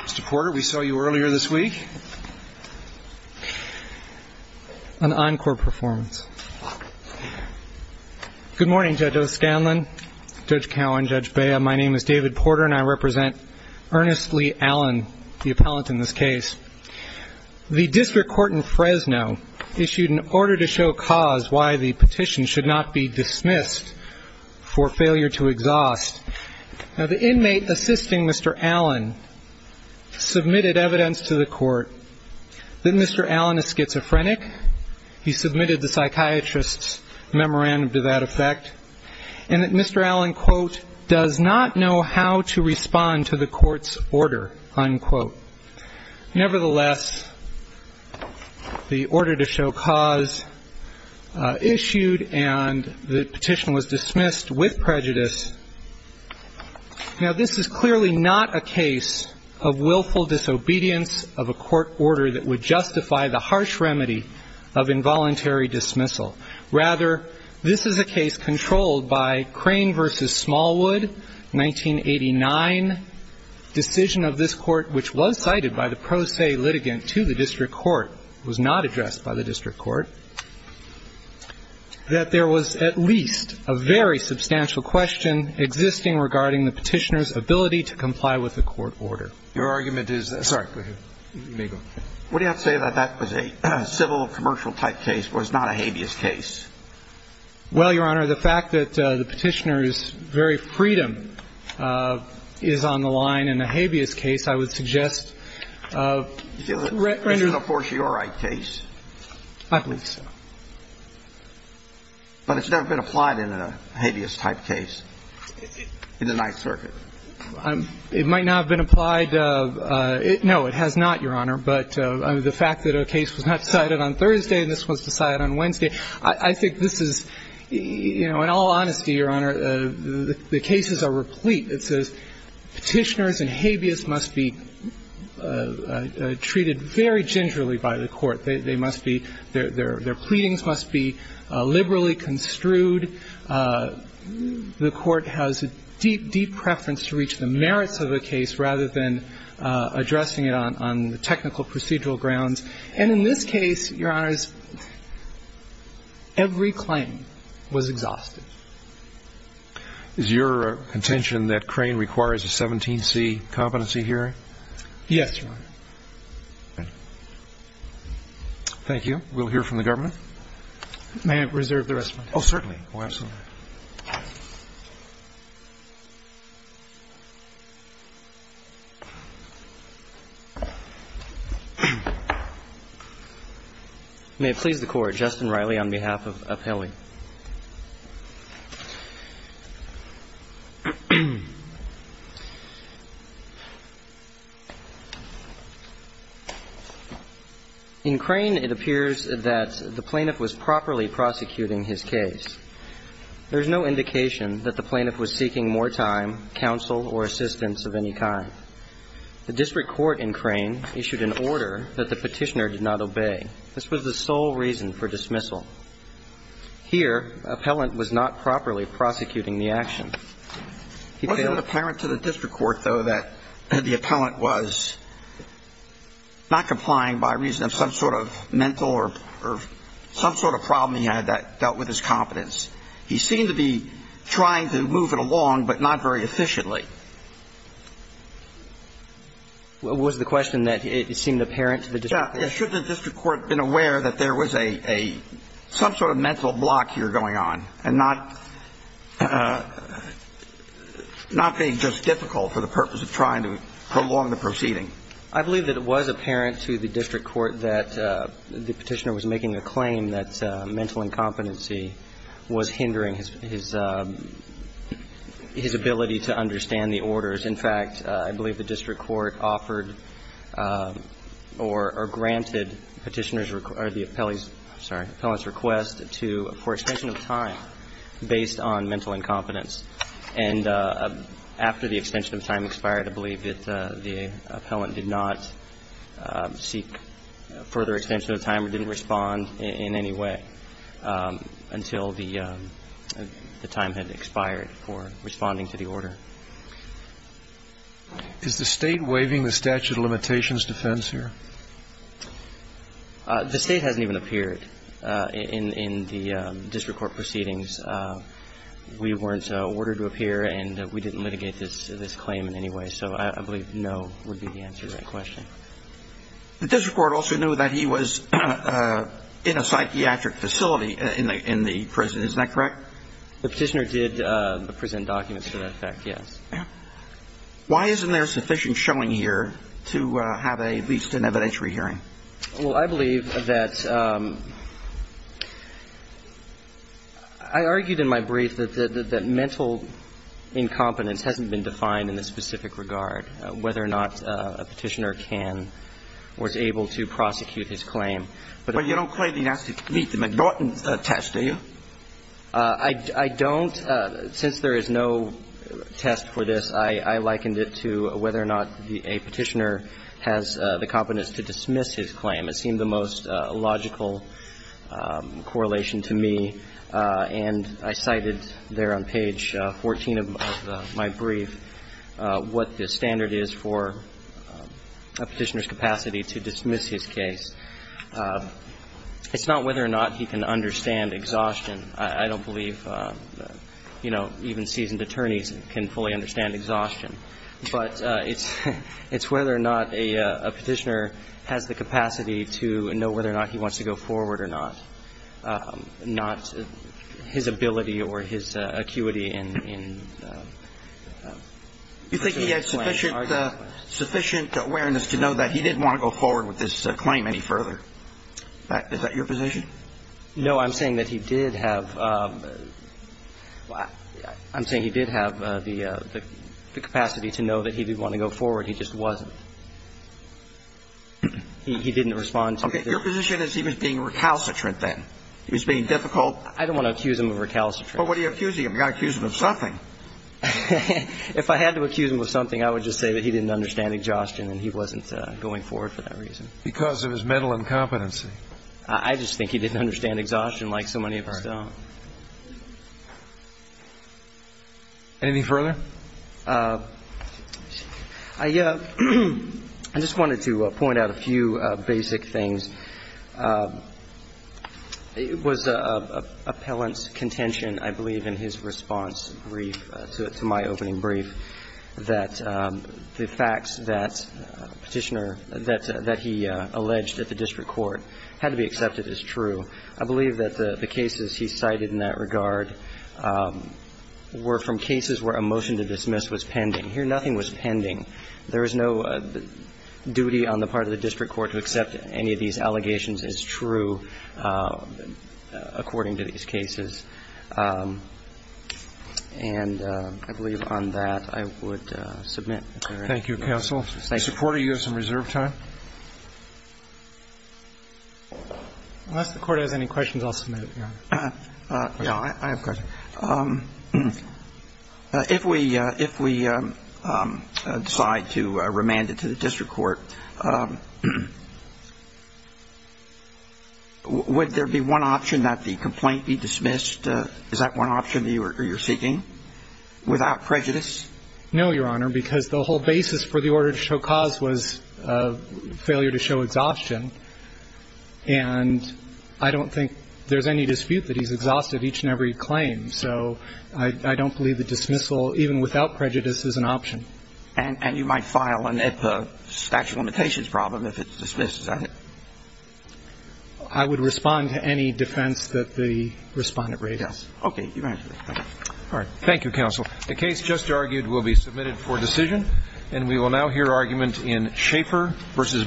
Mr. Porter, we saw you earlier this week. An encore performance. Good morning, Judge O'Scanlan, Judge Cowan, Judge Bea. My name is David Porter, and I represent Ernest Lee Allen, the appellant in this case. The district court in Fresno issued an order to show cause why the petition should not be dismissed for failure to exhaust. Now, the inmate assisting Mr. Allen submitted evidence to the court that Mr. Allen is schizophrenic. He submitted the psychiatrist's memorandum to that effect, and that Mr. Allen, quote, does not know how to respond to the court's order, unquote. Nevertheless, the order to show cause issued, and the petition was dismissed with prejudice. Now, this is clearly not a case of willful disobedience of a court order that would justify the harsh remedy of involuntary dismissal. Rather, this is a case controlled by Crane v. Smallwood, 1989. Decision of this court, which was cited by the pro se litigant to the district court, was not addressed by the district court, that there was at least a very substantial question existing regarding the petitioner's ability to comply with the court order. Your argument is that – sorry, go ahead. What do you have to say that that was a civil, commercial-type case, was not a habeas case? Well, Your Honor, the fact that the petitioner's very freedom is on the line in a habeas case, I would suggest – You feel that this is a fortiori case? I believe so. But it's never been applied in a habeas-type case in the Ninth Circuit. It might not have been applied – no, it has not, Your Honor. But the fact that a case was not cited on Thursday and this was decided on Wednesday, I think this is – you know, in all honesty, Your Honor, the cases are replete. It says petitioners and habeas must be treated very gingerly by the court. They must be – their pleadings must be liberally construed. The court has a deep, deep preference to reach the merits of a case rather than addressing it on technical procedural grounds. And in this case, Your Honor, every claim was exhausted. Is your contention that Crane requires a 17C competency hearing? Yes, Your Honor. Thank you. We'll hear from the government. May I reserve the rest of my time? Oh, certainly. Oh, absolutely. May it please the Court. Justin Riley on behalf of Appelli. Thank you. In Crane, it appears that the plaintiff was properly prosecuting his case. There is no indication that the plaintiff was seeking more time, counsel, or assistance of any kind. The district court in Crane issued an order that the petitioner did not obey. This was the sole reason for dismissal. Here, Appellant was not properly prosecuting the action. Was it apparent to the district court, though, that the appellant was not complying by reason of some sort of mental or some sort of problem he had that dealt with his competence? He seemed to be trying to move it along, but not very efficiently. Should the district court have been aware that there was some sort of mental block here going on and not being just difficult for the purpose of trying to prolong the proceeding? I believe that it was apparent to the district court that the petitioner was making a claim that mental incompetency was hindering his ability to understand the orders. In fact, I believe the district court offered or granted Petitioner's request or the appellant's request for extension of time based on mental incompetence. And after the extension of time expired, I believe that the appellant did not seek further extension of time or didn't respond in any way until the time had expired for responding to the order. Is the State waiving the statute of limitations defense here? The State hasn't even appeared in the district court proceedings. We weren't ordered to appear and we didn't litigate this claim in any way, so I believe no would be the answer to that question. The district court also knew that he was in a psychiatric facility in the prison. Is that correct? The petitioner did present documents to that effect, yes. Why isn't there sufficient showing here to have at least an evidentiary hearing? Well, I believe that I argued in my brief that mental incompetence hasn't been defined in this specific regard, whether or not a petitioner can or is able to prosecute his claim. But you don't claim he has to meet the McNaughton test, do you? I don't. Since there is no test for this, I likened it to whether or not a petitioner has the competence to dismiss his claim. It seemed the most logical correlation to me, and I cited there on page 14 of my brief what the standard is for a petitioner's capacity to dismiss his case. It's not whether or not he can understand exhaustion. I don't believe, you know, even seasoned attorneys can fully understand exhaustion. But it's whether or not a petitioner has the capacity to know whether or not he wants to go forward or not, not his ability or his acuity in pursuing a claim. You think he had sufficient awareness to know that he didn't want to go forward with this claim any further? Is that your position? No. I'm saying that he did have the capacity to know that he did want to go forward. He just wasn't. He didn't respond to it. Okay. Your position is he was being recalcitrant then. He was being difficult. I don't want to accuse him of recalcitrant. Well, what are you accusing him? You've got to accuse him of something. If I had to accuse him of something, I would just say that he didn't understand exhaustion and he wasn't going forward for that reason. Because of his mental incompetency. I just think he didn't understand exhaustion like so many of us don't. All right. Anything further? I just wanted to point out a few basic things. It was Appellant's contention, I believe, in his response brief to my opening that the facts that Petitioner, that he alleged at the district court had to be accepted as true. I believe that the cases he cited in that regard were from cases where a motion to dismiss was pending. Here, nothing was pending. There was no duty on the part of the district court to accept any of these allegations as true according to these cases. And I believe on that I would submit. Thank you, counsel. Support or use of reserve time? Unless the court has any questions, I'll submit it, Your Honor. Yeah, I have a question. If we decide to remand it to the district court, would there be one option that the without prejudice? No, Your Honor, because the whole basis for the order to show cause was failure to show exhaustion. And I don't think there's any dispute that he's exhausted each and every claim. So I don't believe the dismissal, even without prejudice, is an option. And you might file a statute of limitations problem if it's dismissed, is that it? I would respond to any defense that the respondent raises. Yes. Okay. All right. Thank you, counsel. The case just argued will be submitted for decision. And we will now hear argument in Schaefer v. Barnhart.